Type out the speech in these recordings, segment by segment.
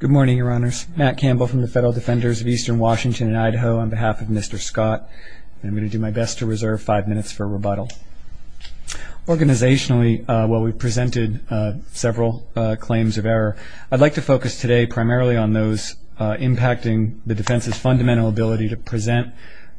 Good morning, Your Honors. Matt Campbell from the Federal Defenders of Eastern Washington and Idaho on behalf of Mr. Scott. I'm going to do my best to reserve five minutes for rebuttal. Organizationally, while we've presented several claims of error, I'd like to focus today primarily on those impacting the defense's fundamental ability to present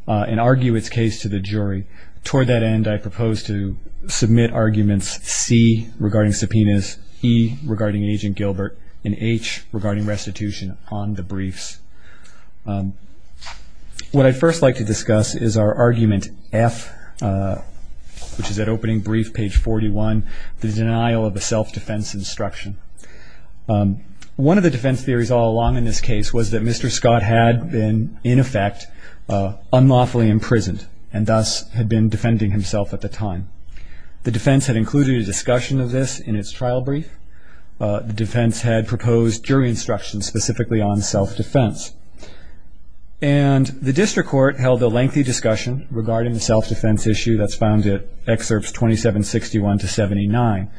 and argue its case to the jury. Toward that end, I propose to submit arguments C regarding subpoenas, E regarding Agent Gilbert, and H regarding restitution on the briefs. What I'd first like to discuss is our argument F, which is at opening brief, page 41, the denial of a self-defense instruction. One of the defense theories all along in this case was that Mr. Scott had been, in effect, unlawfully imprisoned and thus had been defending himself at the time. The defense had included a discussion of this in its trial brief. The defense had proposed jury instructions specifically on self-defense. And the district court held a lengthy discussion regarding the self-defense issue that's found in excerpts 2761 to 79.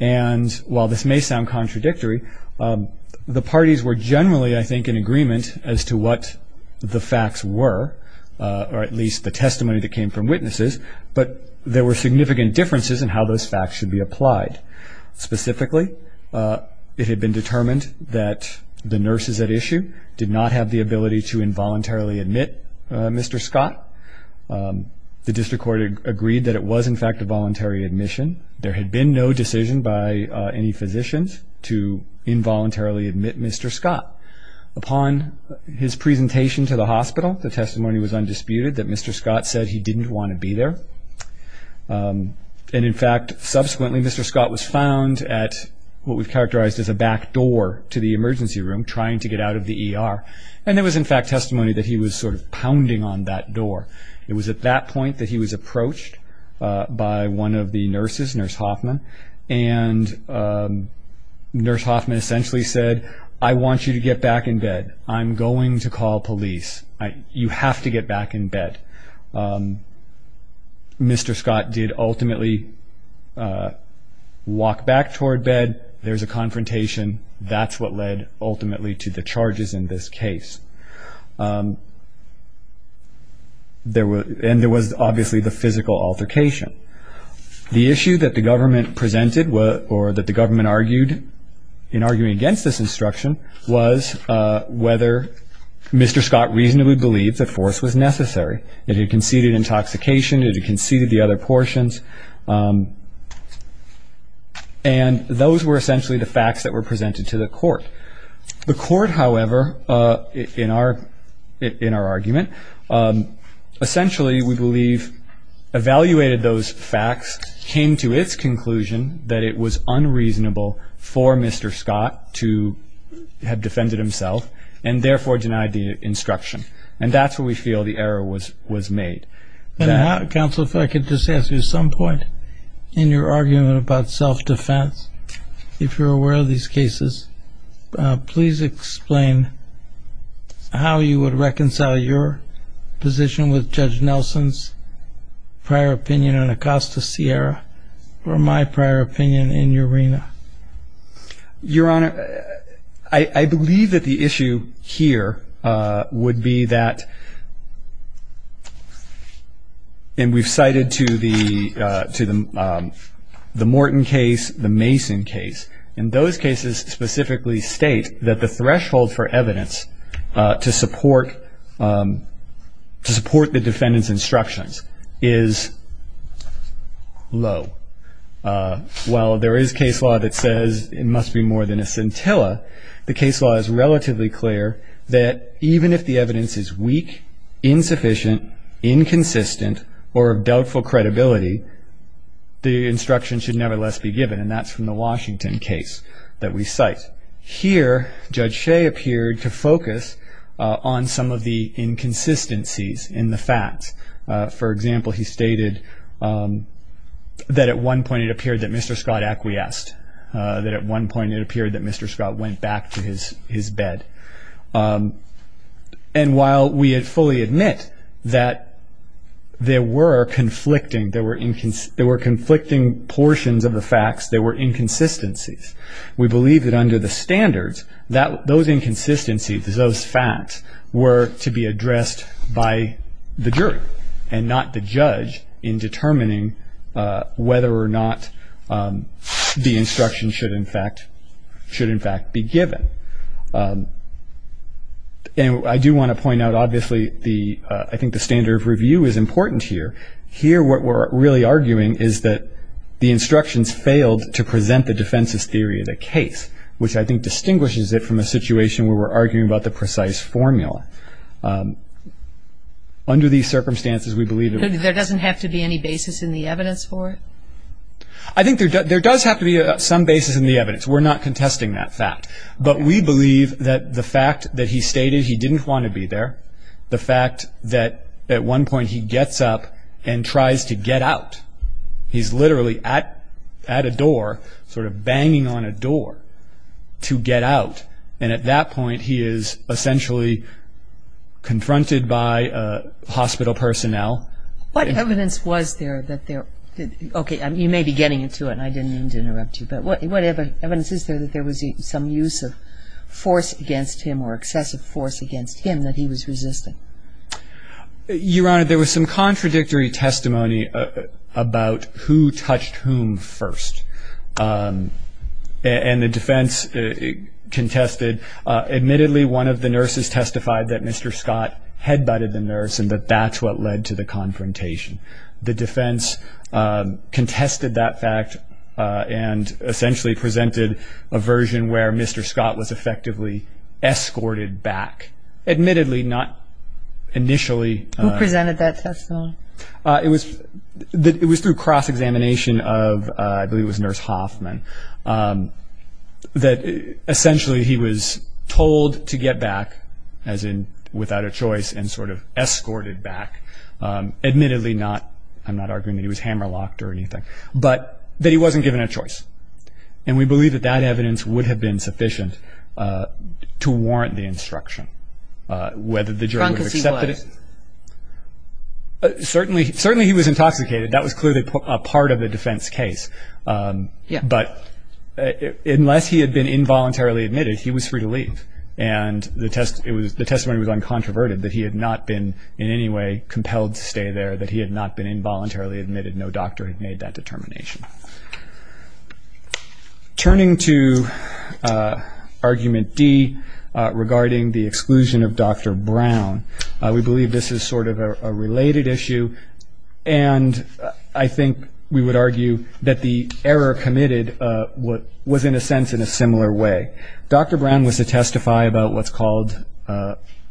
And while this may sound contradictory, the parties were generally, I think, in agreement as to what the facts were, or at least the testimony that came from witnesses. But there were significant differences in how those facts should be applied. Specifically, it had been determined that the nurses at issue did not have the ability to involuntarily admit Mr. Scott. The district court agreed that it was, in fact, a voluntary admission. There had been no decision by any physicians to involuntarily admit Mr. Scott. Upon his presentation to the hospital, the testimony was undisputed that Mr. Scott said he didn't want to be there. And, in fact, subsequently Mr. Scott was found at what we've characterized as a back door to the emergency room, trying to get out of the ER. And there was, in fact, testimony that he was sort of pounding on that door. It was at that point that he was approached by one of the nurses, Nurse Hoffman. And Nurse Hoffman essentially said, I want you to get back in bed. I'm going to call police. You have to get back in bed. Mr. Scott did ultimately walk back toward bed. There was a confrontation. That's what led ultimately to the charges in this case. And there was obviously the physical altercation. The issue that the government presented or that the government argued in arguing against this instruction was whether Mr. Scott reasonably believed that force was necessary. It had conceded intoxication. It had conceded the other portions. And those were essentially the facts that were presented to the court. The court, however, in our argument, essentially we believe evaluated those facts, came to its conclusion that it was unreasonable for Mr. Scott to have defended himself and therefore denied the instruction. And that's where we feel the error was made. Counsel, if I could just ask you, in your argument about self-defense, if you're aware of these cases, please explain how you would reconcile your position with Judge Nelson's prior opinion in Acosta Sierra or my prior opinion in Urena. Your Honor, I believe that the issue here would be that, and we've cited to the Morton case, the Mason case, and those cases specifically state that the threshold for evidence to support the defendant's instructions is low. While there is case law that says it must be more than a scintilla, the case law is relatively clear that even if the evidence is weak, insufficient, inconsistent, or of doubtful credibility, the instruction should nevertheless be given. And that's from the Washington case that we cite. Here, Judge Shea appeared to focus on some of the inconsistencies in the facts. For example, he stated that at one point it appeared that Mr. Scott acquiesced, that at one point it appeared that Mr. Scott went back to his bed. And while we fully admit that there were conflicting portions of the facts, there were inconsistencies, we believe that under the standards, those inconsistencies, those facts, were to be addressed by the jury and not the judge in determining whether or not the instruction should in fact be given. And I do want to point out, obviously, I think the standard of review is important here. Here, what we're really arguing is that the instructions failed to present the defense's theory of the case, which I think distinguishes it from a situation where we're arguing about the precise formula. Under these circumstances, we believe that... There doesn't have to be any basis in the evidence for it? I think there does have to be some basis in the evidence. We're not contesting that fact. But we believe that the fact that he stated he didn't want to be there, the fact that at one point he gets up and tries to get out, he's literally at a door, sort of banging on a door to get out, and at that point he is essentially confronted by hospital personnel. What evidence was there that there... Okay, you may be getting into it and I didn't mean to interrupt you, but what evidence is there that there was some use of force against him or excessive force against him that he was resisting? Your Honor, there was some contradictory testimony about who touched whom first. And the defense contested. Admittedly, one of the nurses testified that Mr. Scott head-butted the nurse and that that's what led to the confrontation. The defense contested that fact and essentially presented a version where Mr. Scott was effectively escorted back. Admittedly, not initially. Who presented that testimony? It was through cross-examination of, I believe it was Nurse Hoffman, that essentially he was told to get back, as in without a choice, and sort of escorted back. Admittedly, I'm not arguing that he was hammer-locked or anything, but that he wasn't given a choice. And we believe that that evidence would have been sufficient to warrant the instruction, whether the jury would have accepted it. Drunk as he was. Certainly he was intoxicated. That was clearly a part of the defense case. But unless he had been involuntarily admitted, he was free to leave. And the testimony was uncontroverted, that he had not been in any way compelled to stay there, that he had not been involuntarily admitted. No doctor had made that determination. Turning to Argument D regarding the exclusion of Dr. Brown, we believe this is sort of a related issue, and I think we would argue that the error committed was, in a sense, in a similar way. Dr. Brown was to testify about what's called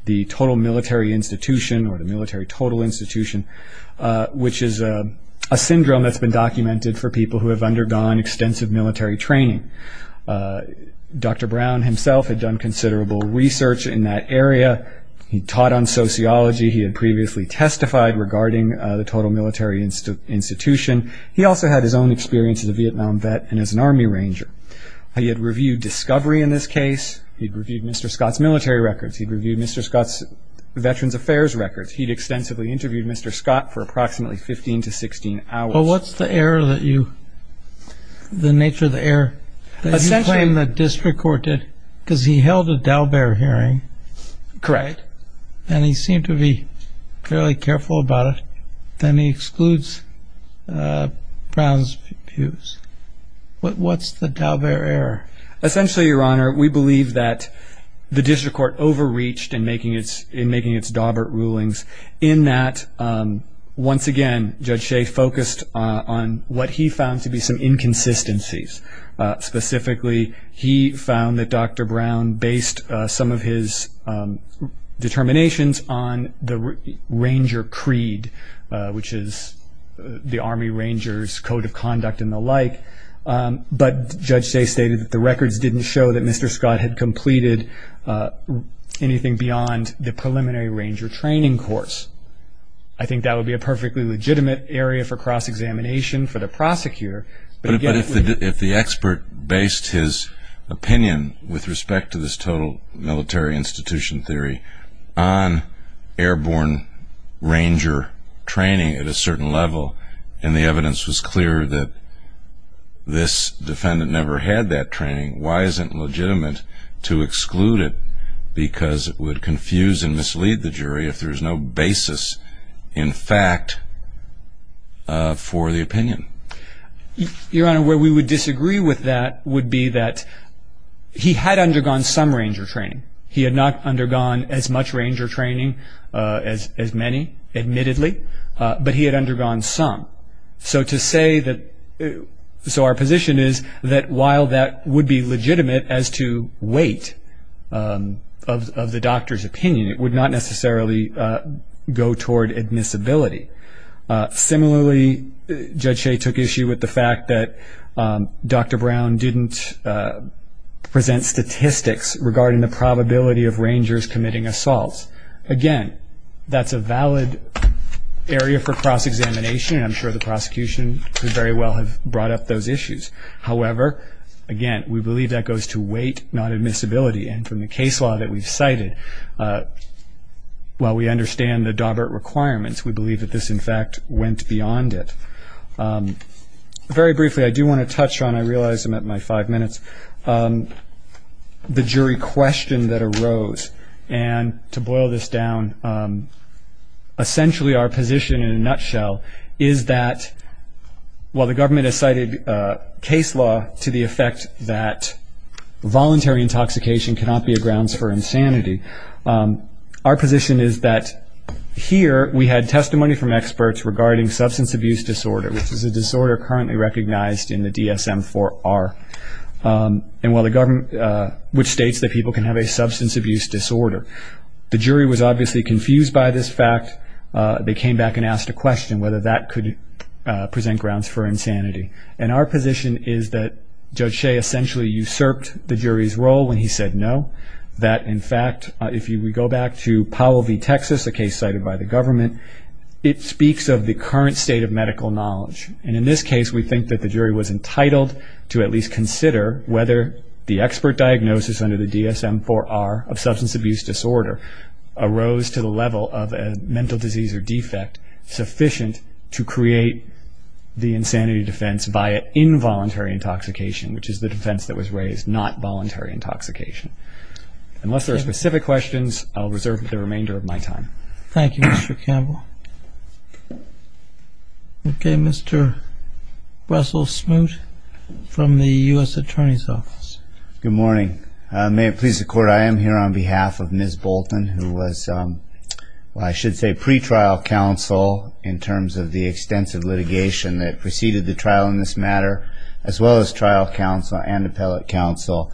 the Total Military Institution, or the Military Total Institution, which is a syndrome that's been documented for people who have undergone extensive military training. Dr. Brown himself had done considerable research in that area. He taught on sociology. He had previously testified regarding the Total Military Institution. He also had his own experience as a Vietnam vet and as an Army Ranger. He had reviewed discovery in this case. He had reviewed Mr. Scott's military records. He had reviewed Mr. Scott's Veterans Affairs records. He had extensively interviewed Mr. Scott for approximately 15 to 16 hours. Well, what's the error that you – the nature of the error that you claim that district court did? Because he held a Daubert hearing. Correct. And he seemed to be fairly careful about it. Then he excludes Brown's views. What's the Daubert error? Essentially, Your Honor, we believe that the district court overreached in making its Daubert rulings in that, once again, Judge Shea focused on what he found to be some inconsistencies. Specifically, he found that Dr. Brown based some of his determinations on the Ranger creed, which is the Army Ranger's code of conduct and the like. But Judge Shea stated that the records didn't show that Mr. Scott had completed anything beyond the preliminary Ranger training course. I think that would be a perfectly legitimate area for cross-examination for the prosecutor. But if the expert based his opinion with respect to this total military institution theory on airborne Ranger training at a certain level and the evidence was clear that this defendant never had that training, why isn't it legitimate to exclude it because it would confuse and mislead the jury if there's no basis in fact for the opinion? Your Honor, where we would disagree with that would be that he had undergone some Ranger training. He had not undergone as much Ranger training as many, admittedly, but he had undergone some. So our position is that while that would be legitimate as to weight of the doctor's opinion, it would not necessarily go toward admissibility. Similarly, Judge Shea took issue with the fact that Dr. Brown didn't present statistics regarding the probability of Rangers committing assaults. Again, that's a valid area for cross-examination, and I'm sure the prosecution could very well have brought up those issues. However, again, we believe that goes to weight, not admissibility. And from the case law that we've cited, while we understand the Dawbert requirements, we believe that this, in fact, went beyond it. Very briefly, I do want to touch on, I realize I'm at my five minutes, the jury question that arose. And to boil this down, essentially our position in a nutshell is that while the government has cited case law to the effect that voluntary intoxication cannot be a grounds for insanity, our position is that here we had testimony from experts regarding substance abuse disorder, which is a disorder currently recognized in the DSM-IV-R, which states that people can have a substance abuse disorder. The jury was obviously confused by this fact. They came back and asked a question whether that could present grounds for insanity. And our position is that Judge Shea essentially usurped the jury's role when he said no, that, in fact, if we go back to Powell v. Texas, a case cited by the government, it speaks of the current state of medical knowledge. And in this case, we think that the jury was entitled to at least consider whether the expert diagnosis under the DSM-IV-R of substance abuse disorder arose to the level of a mental disease or defect sufficient to create the insanity defense via involuntary intoxication, which is the defense that was raised, not voluntary intoxication. Unless there are specific questions, I'll reserve the remainder of my time. Thank you, Mr. Campbell. Okay, Mr. Russell Smoot from the U.S. Attorney's Office. Good morning. May it please the Court, I am here on behalf of Ms. Bolton, who was, I should say, pretrial counsel in terms of the extensive litigation that preceded the trial in this matter, as well as trial counsel and appellate counsel.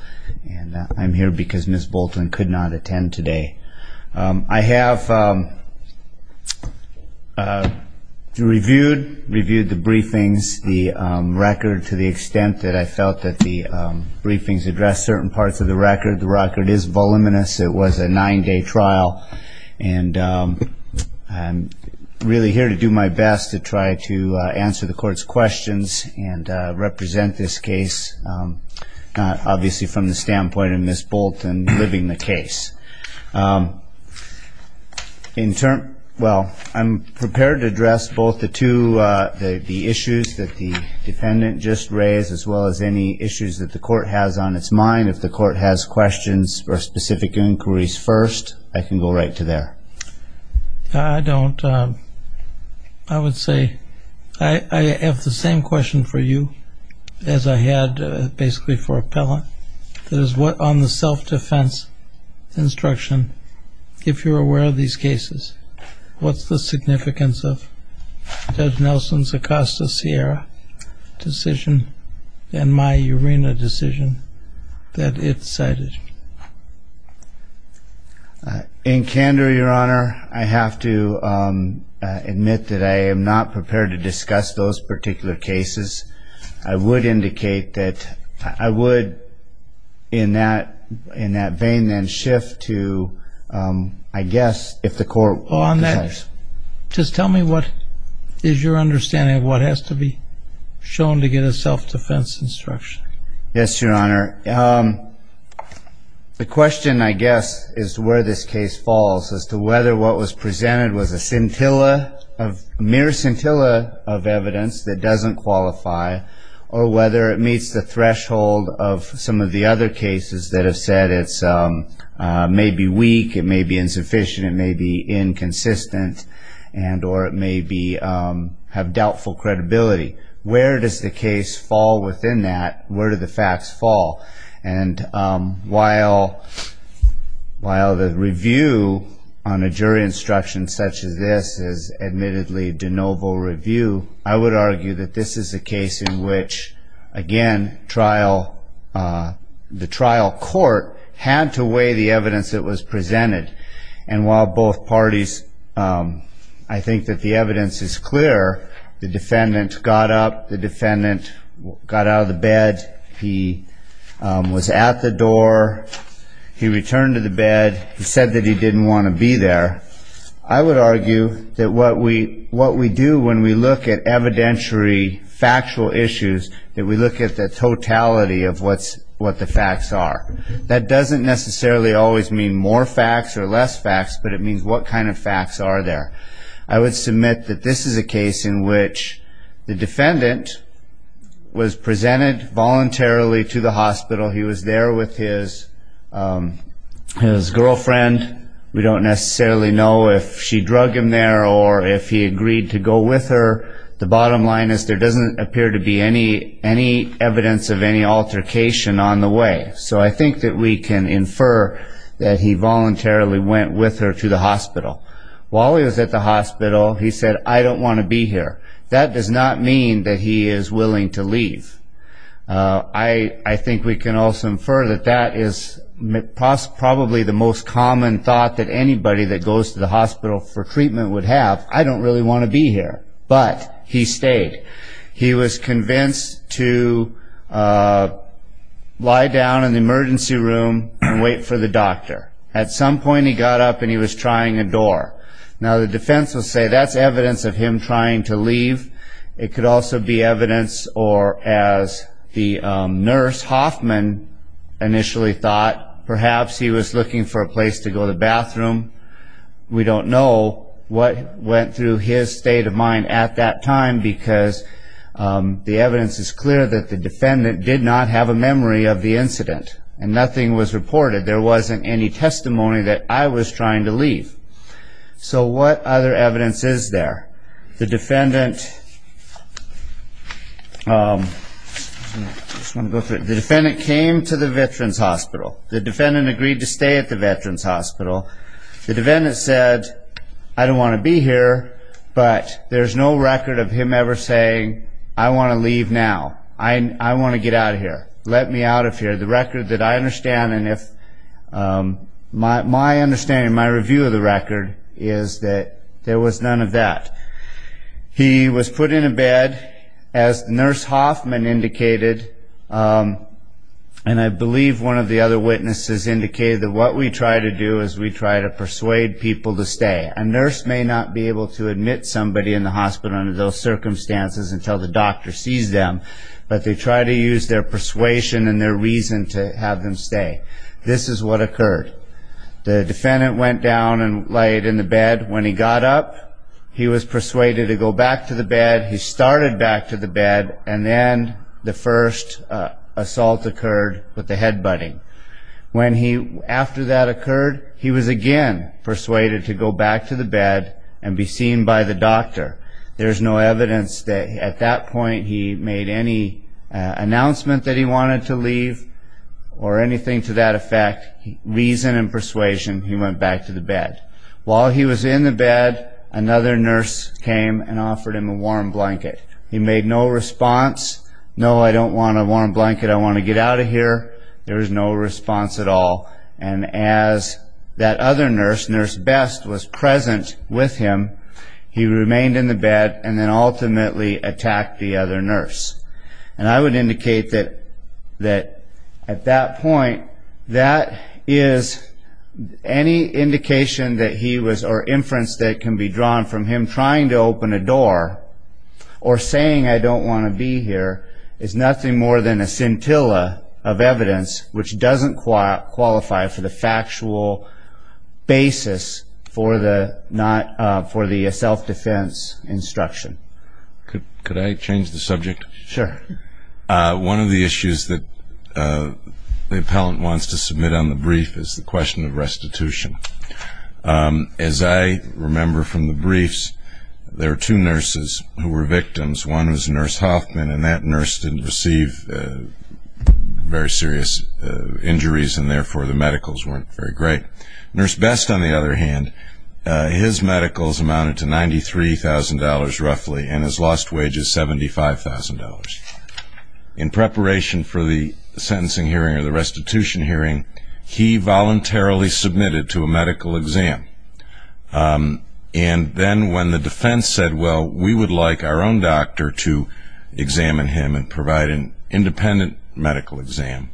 And I'm here because Ms. Bolton could not attend today. I have reviewed the briefings, the record, to the extent that I felt that the briefings addressed certain parts of the record. The record is voluminous. It was a nine-day trial. And I'm really here to do my best to try to answer the Court's questions and represent this case, obviously from the standpoint of Ms. Bolton living the case. Well, I'm prepared to address both the two, the issues that the defendant just raised, as well as any issues that the Court has on its mind. If the Court has questions or specific inquiries first, I can go right to there. I don't. I would say I have the same question for you as I had basically for appellant. That is, what on the self-defense instruction, if you're aware of these cases, what's the significance of Judge Nelson's Acosta-Sierra decision and my Urena decision that it cited? In candor, Your Honor, I have to admit that I am not prepared to discuss those particular cases. I would indicate that I would in that vein then shift to, I guess, if the Court decides. Just tell me what is your understanding of what has to be shown to get a self-defense instruction. Yes, Your Honor. The question, I guess, is where this case falls as to whether what was presented was a scintilla, mere scintilla of evidence that doesn't qualify, or whether it meets the threshold of some of the other cases that have said it may be weak, it may be insufficient, it may be inconsistent, or it may have doubtful credibility. Where does the case fall within that? Where do the facts fall? And while the review on a jury instruction such as this is admittedly de novo review, I would argue that this is a case in which, again, the trial court had to weigh the evidence that was presented. And while both parties, I think that the evidence is clear, the defendant got up, the defendant got out of the bed, he was at the door, he returned to the bed, he said that he didn't want to be there. I would argue that what we do when we look at evidentiary factual issues, that we look at the totality of what the facts are. That doesn't necessarily always mean more facts or less facts, but it means what kind of facts are there. I would submit that this is a case in which the defendant was presented voluntarily to the hospital. He was there with his girlfriend. We don't necessarily know if she drug him there or if he agreed to go with her. The bottom line is there doesn't appear to be any evidence of any altercation on the way. So I think that we can infer that he voluntarily went with her to the hospital. While he was at the hospital, he said, I don't want to be here. That does not mean that he is willing to leave. I think we can also infer that that is probably the most common thought that anybody that goes to the hospital for treatment would have. I don't really want to be here. But he stayed. He was convinced to lie down in the emergency room and wait for the doctor. At some point, he got up and he was trying a door. Now, the defense will say that's evidence of him trying to leave. It could also be evidence or, as the nurse Hoffman initially thought, perhaps he was looking for a place to go to the bathroom. We don't know what went through his state of mind at that time, because the evidence is clear that the defendant did not have a memory of the incident and nothing was reported. There wasn't any testimony that I was trying to leave. So what other evidence is there? The defendant came to the Veterans Hospital. The defendant agreed to stay at the Veterans Hospital. The defendant said, I don't want to be here, but there's no record of him ever saying, I want to leave now. I want to get out of here. Let me out of here. The record that I understand and my understanding and my review of the record is that there was none of that. He was put in a bed, as the nurse Hoffman indicated, and I believe one of the other witnesses indicated that what we try to do is we try to persuade people to stay. A nurse may not be able to admit somebody in the hospital under those circumstances until the doctor sees them, but they try to use their persuasion and their reason to have them stay. This is what occurred. The defendant went down and laid in the bed. When he got up, he was persuaded to go back to the bed. He started back to the bed, and then the first assault occurred with the head butting. After that occurred, he was again persuaded to go back to the bed and be seen by the doctor. There's no evidence that at that point he made any announcement that he wanted to leave or anything to that effect. Reason and persuasion, he went back to the bed. While he was in the bed, another nurse came and offered him a warm blanket. He made no response. No, I don't want a warm blanket. I want to get out of here. There was no response at all. As that other nurse, Nurse Best, was present with him, he remained in the bed and then ultimately attacked the other nurse. I would indicate that at that point, any indication or inference that can be drawn from him trying to open a door or saying, I don't want to be here, is nothing more than a scintilla of evidence which doesn't qualify for the factual basis for the self-defense instruction. Could I change the subject? Sure. One of the issues that the appellant wants to submit on the brief is the question of restitution. As I remember from the briefs, there are two nurses who were victims. One was Nurse Hoffman, and that nurse didn't receive very serious injuries, and therefore the medicals weren't very great. Nurse Best, on the other hand, his medicals amounted to $93,000 roughly and his lost wage is $75,000. In preparation for the sentencing hearing or the restitution hearing, he voluntarily submitted to a medical exam. And then when the defense said, well, we would like our own doctor to examine him and provide an independent medical exam,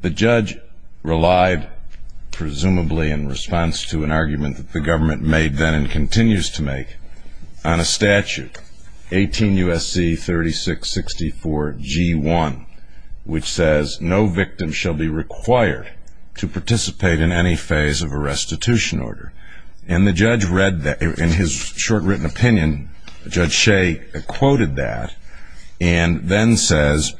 the judge relied presumably in response to an argument that the government made then and continues to make on a statute, 18 U.S.C. 3664 G1, which says no victim shall be required to participate in any phase of a restitution order. And the judge read that. In his short written opinion, Judge Shea quoted that and then says,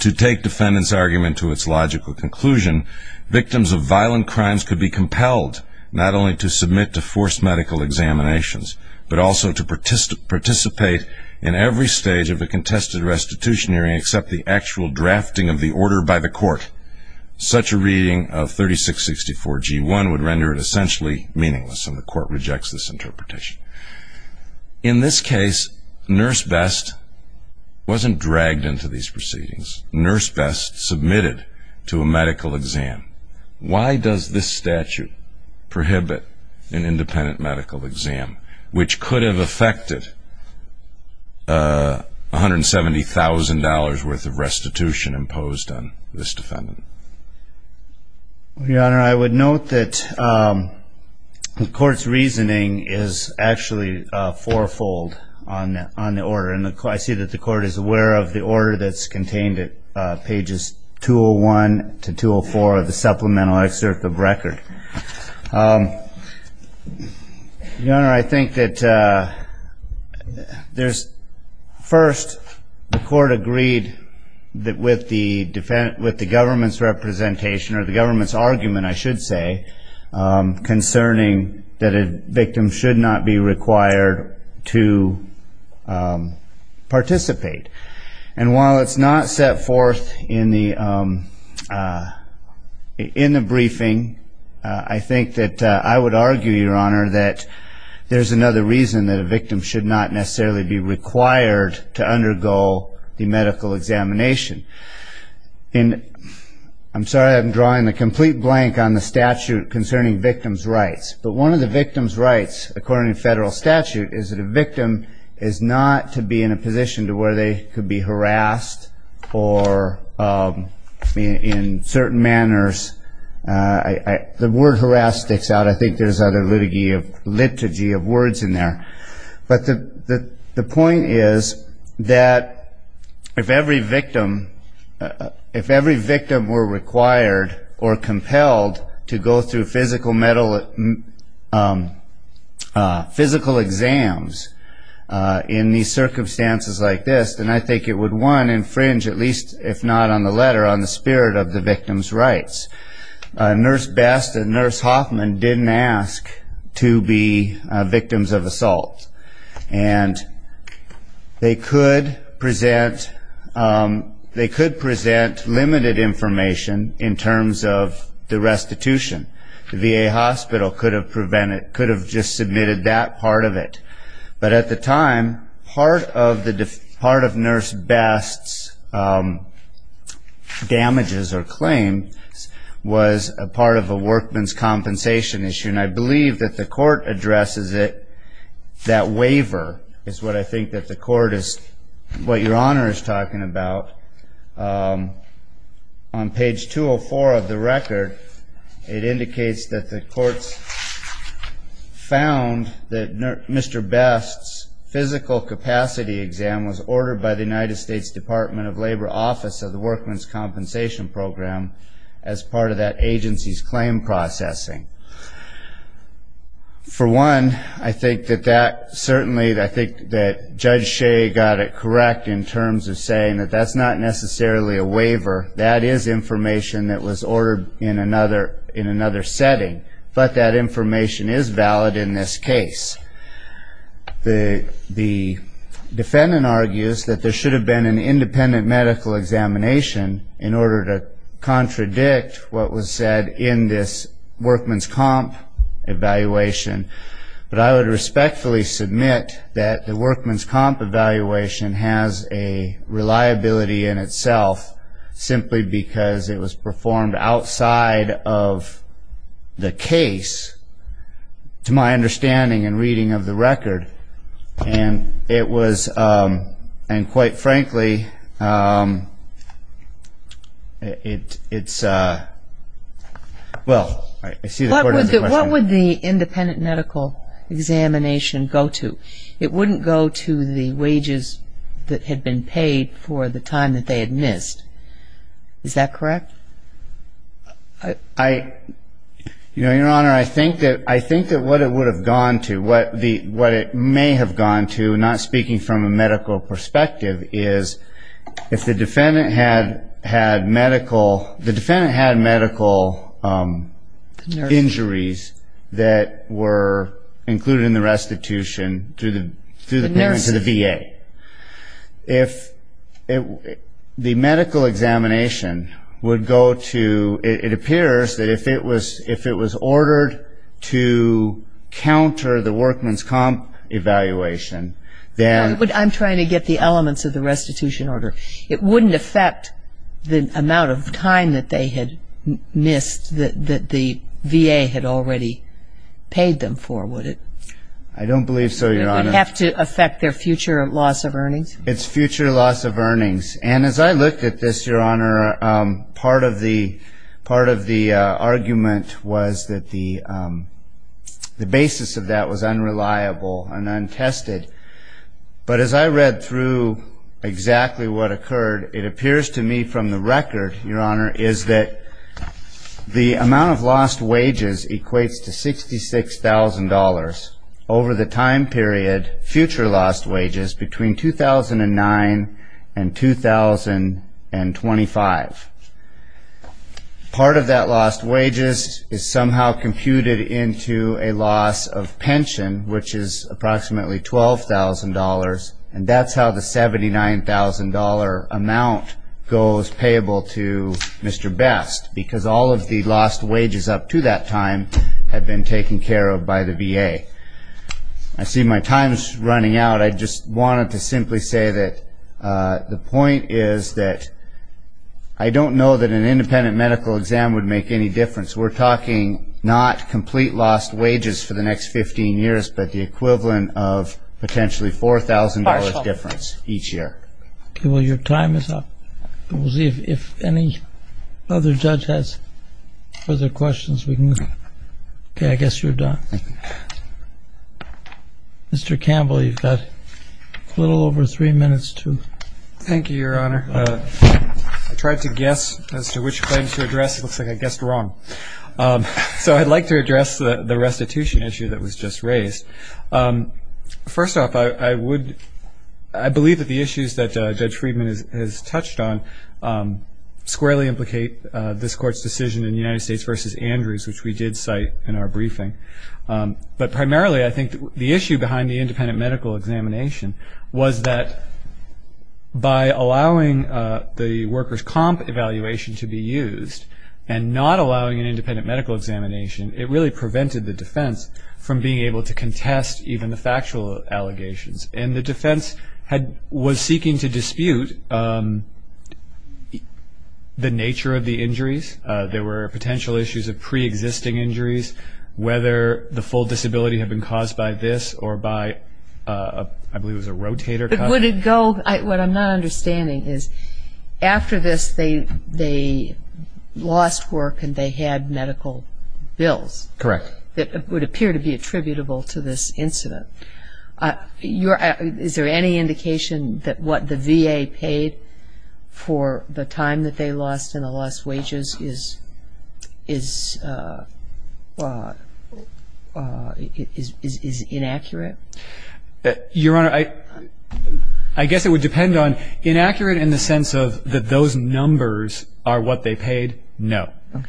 to take defendant's argument to its logical conclusion, victims of violent crimes could be compelled not only to submit to forced medical examinations, but also to participate in every stage of a contested restitution hearing except the actual drafting of the order by the court. Such a reading of 3664 G1 would render it essentially meaningless and the court rejects this interpretation. In this case, Nurse Best wasn't dragged into these proceedings. Nurse Best submitted to a medical exam. Why does this statute prohibit an independent medical exam, which could have affected $170,000 worth of restitution imposed on this defendant? Your Honor, I would note that the court's reasoning is actually fourfold on the order. I see that the court is aware of the order that's contained at pages 201 to 204 of the supplemental excerpt of record. Your Honor, I think that first the court agreed with the government's representation or the government's argument I should say, concerning that a victim should not be required to participate. And while it's not set forth in the briefing, I think that I would argue, Your Honor, that there's another reason that a victim should not necessarily be required to undergo the medical examination. And I'm sorry I'm drawing the complete blank on the statute concerning victim's rights. But one of the victim's rights, according to federal statute, is that a victim is not to be in a position to where they could be harassed or in certain manners. The word harass sticks out. I think there's other liturgy of words in there. But the point is that if every victim were required or compelled to go through physical exams in these circumstances like this, then I think it would, one, infringe at least, if not on the letter, on the spirit of the victim's rights. Nurse Best and Nurse Hoffman didn't ask to be victims of assault. And they could present limited information in terms of the restitution. The VA hospital could have just submitted that part of it. But at the time, part of Nurse Best's damages or claim was a part of a workman's compensation issue. And I believe that the court addresses it, that waiver, is what I think that the court is, what Your Honor is talking about. On page 204 of the record, it indicates that the courts found that Mr. Best's physical capacity exam was ordered by the United States Department of Labor Office of the Workman's Compensation Program as part of that agency's claim processing. For one, I think that Judge Shea got it correct in terms of saying that that's not necessarily a waiver. That is information that was ordered in another setting. But that information is valid in this case. The defendant argues that there should have been an independent medical examination in order to contradict what was said in this workman's comp evaluation. But I would respectfully submit that the workman's comp evaluation has a reliability in itself simply because it was performed outside of the case, to my understanding and reading of the record. And it was, and quite frankly, it's, well, I see the court has a question. What would the independent medical examination go to? It wouldn't go to the wages that had been paid for the time that they had missed. Is that correct? I, you know, Your Honor, I think that what it would have gone to, what it may have gone to, not speaking from a medical perspective, is if the defendant had medical injuries that were included in the restitution through the payment to the VA. If the medical examination would go to, it appears that if it was ordered to counter the workman's comp evaluation, then. I'm trying to get the elements of the restitution order. It wouldn't affect the amount of time that they had missed that the VA had already paid them for, would it? I don't believe so, Your Honor. Would it have to affect their future loss of earnings? It's future loss of earnings. And as I looked at this, Your Honor, part of the argument was that the basis of that was unreliable and untested. But as I read through exactly what occurred, it appears to me from the record, Your Honor, is that the amount of lost wages equates to $66,000 over the time period, future lost wages, between 2009 and 2025. Part of that lost wages is somehow computed into a loss of pension, which is approximately $12,000, and that's how the $79,000 amount goes payable to Mr. Best, because all of the lost wages up to that time had been taken care of by the VA. I see my time is running out. I just wanted to simply say that the point is that I don't know that an independent medical exam would make any difference. We're talking not complete lost wages for the next 15 years, but the equivalent of potentially $4,000 difference each year. Okay, well, your time is up. We'll see if any other judge has further questions. Okay, I guess you're done. Mr. Campbell, you've got a little over three minutes to go. Thank you, Your Honor. I tried to guess as to which claim to address. It looks like I guessed wrong. So I'd like to address the restitution issue that was just raised. First off, I believe that the issues that Judge Friedman has touched on squarely implicate this Court's decision in United States v. Andrews, which we did cite in our briefing, but primarily I think the issue behind the independent medical examination was that by allowing the workers' comp evaluation to be used, and not allowing an independent medical examination, it really prevented the defense from being able to contest even the factual allegations. And the defense was seeking to dispute the nature of the injuries. There were potential issues of preexisting injuries, whether the full disability had been caused by this or by, I believe it was a rotator cuff. What I'm not understanding is after this they lost work and they had medical bills. Correct. That would appear to be attributable to this incident. Is there any indication that what the VA paid for the time that they lost and the lost wages is inaccurate? Your Honor, I guess it would depend on, inaccurate in the sense that those numbers are what they paid? No. Okay.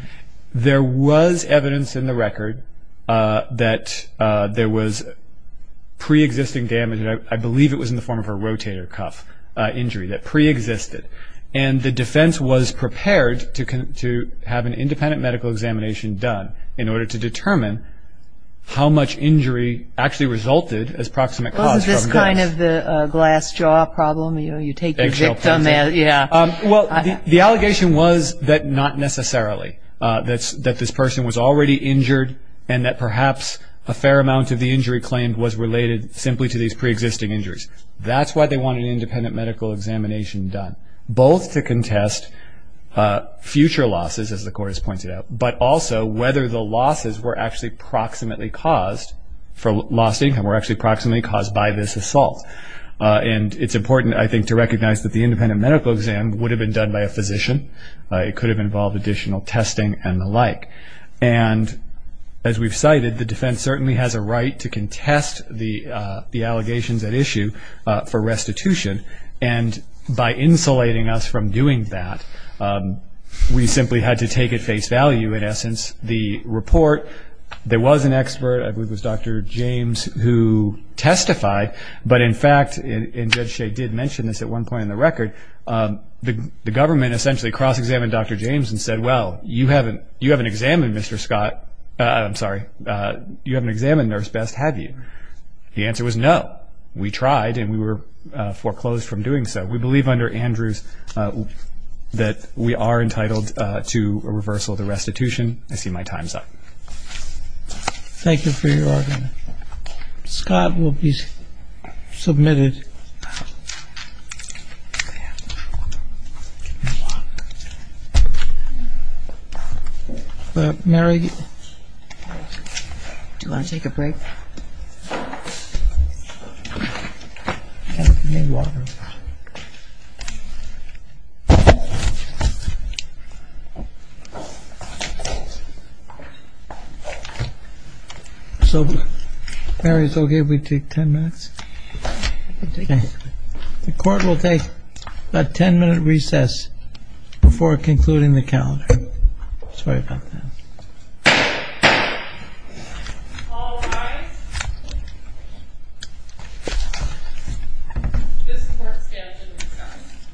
There was evidence in the record that there was preexisting damage, and I believe it was in the form of a rotator cuff injury that preexisted. And the defense was prepared to have an independent medical examination done in order to determine how much injury actually resulted as proximate cause from this. Wasn't this kind of the glass jaw problem? You know, you take your victim and, yeah. Well, the allegation was that not necessarily, that this person was already injured and that perhaps a fair amount of the injury claimed was related simply to these preexisting injuries. That's why they wanted an independent medical examination done, both to contest future losses, as the court has pointed out, but also whether the losses were actually proximately caused by this assault. And it's important, I think, to recognize that the independent medical exam would have been done by a physician. It could have involved additional testing and the like. And as we've cited, the defense certainly has a right to contest the allegations at issue for restitution. And by insulating us from doing that, we simply had to take at face value, in essence, the report. There was an expert, I believe it was Dr. James, who testified. But in fact, and Judge Shea did mention this at one point in the record, the government essentially cross-examined Dr. James and said, well, you haven't examined Nurse Best, have you? The answer was no. We tried and we were foreclosed from doing so. We believe under Andrews that we are entitled to a reversal of the restitution. I see my time's up. Thank you for your argument. Scott will be submitted. Mary? Do you want to take a break? I need water. So, Mary, it's okay if we take ten minutes? Okay. The court will take a ten-minute recess before concluding the calendar. Sorry about that. All rise. This court stands in recess.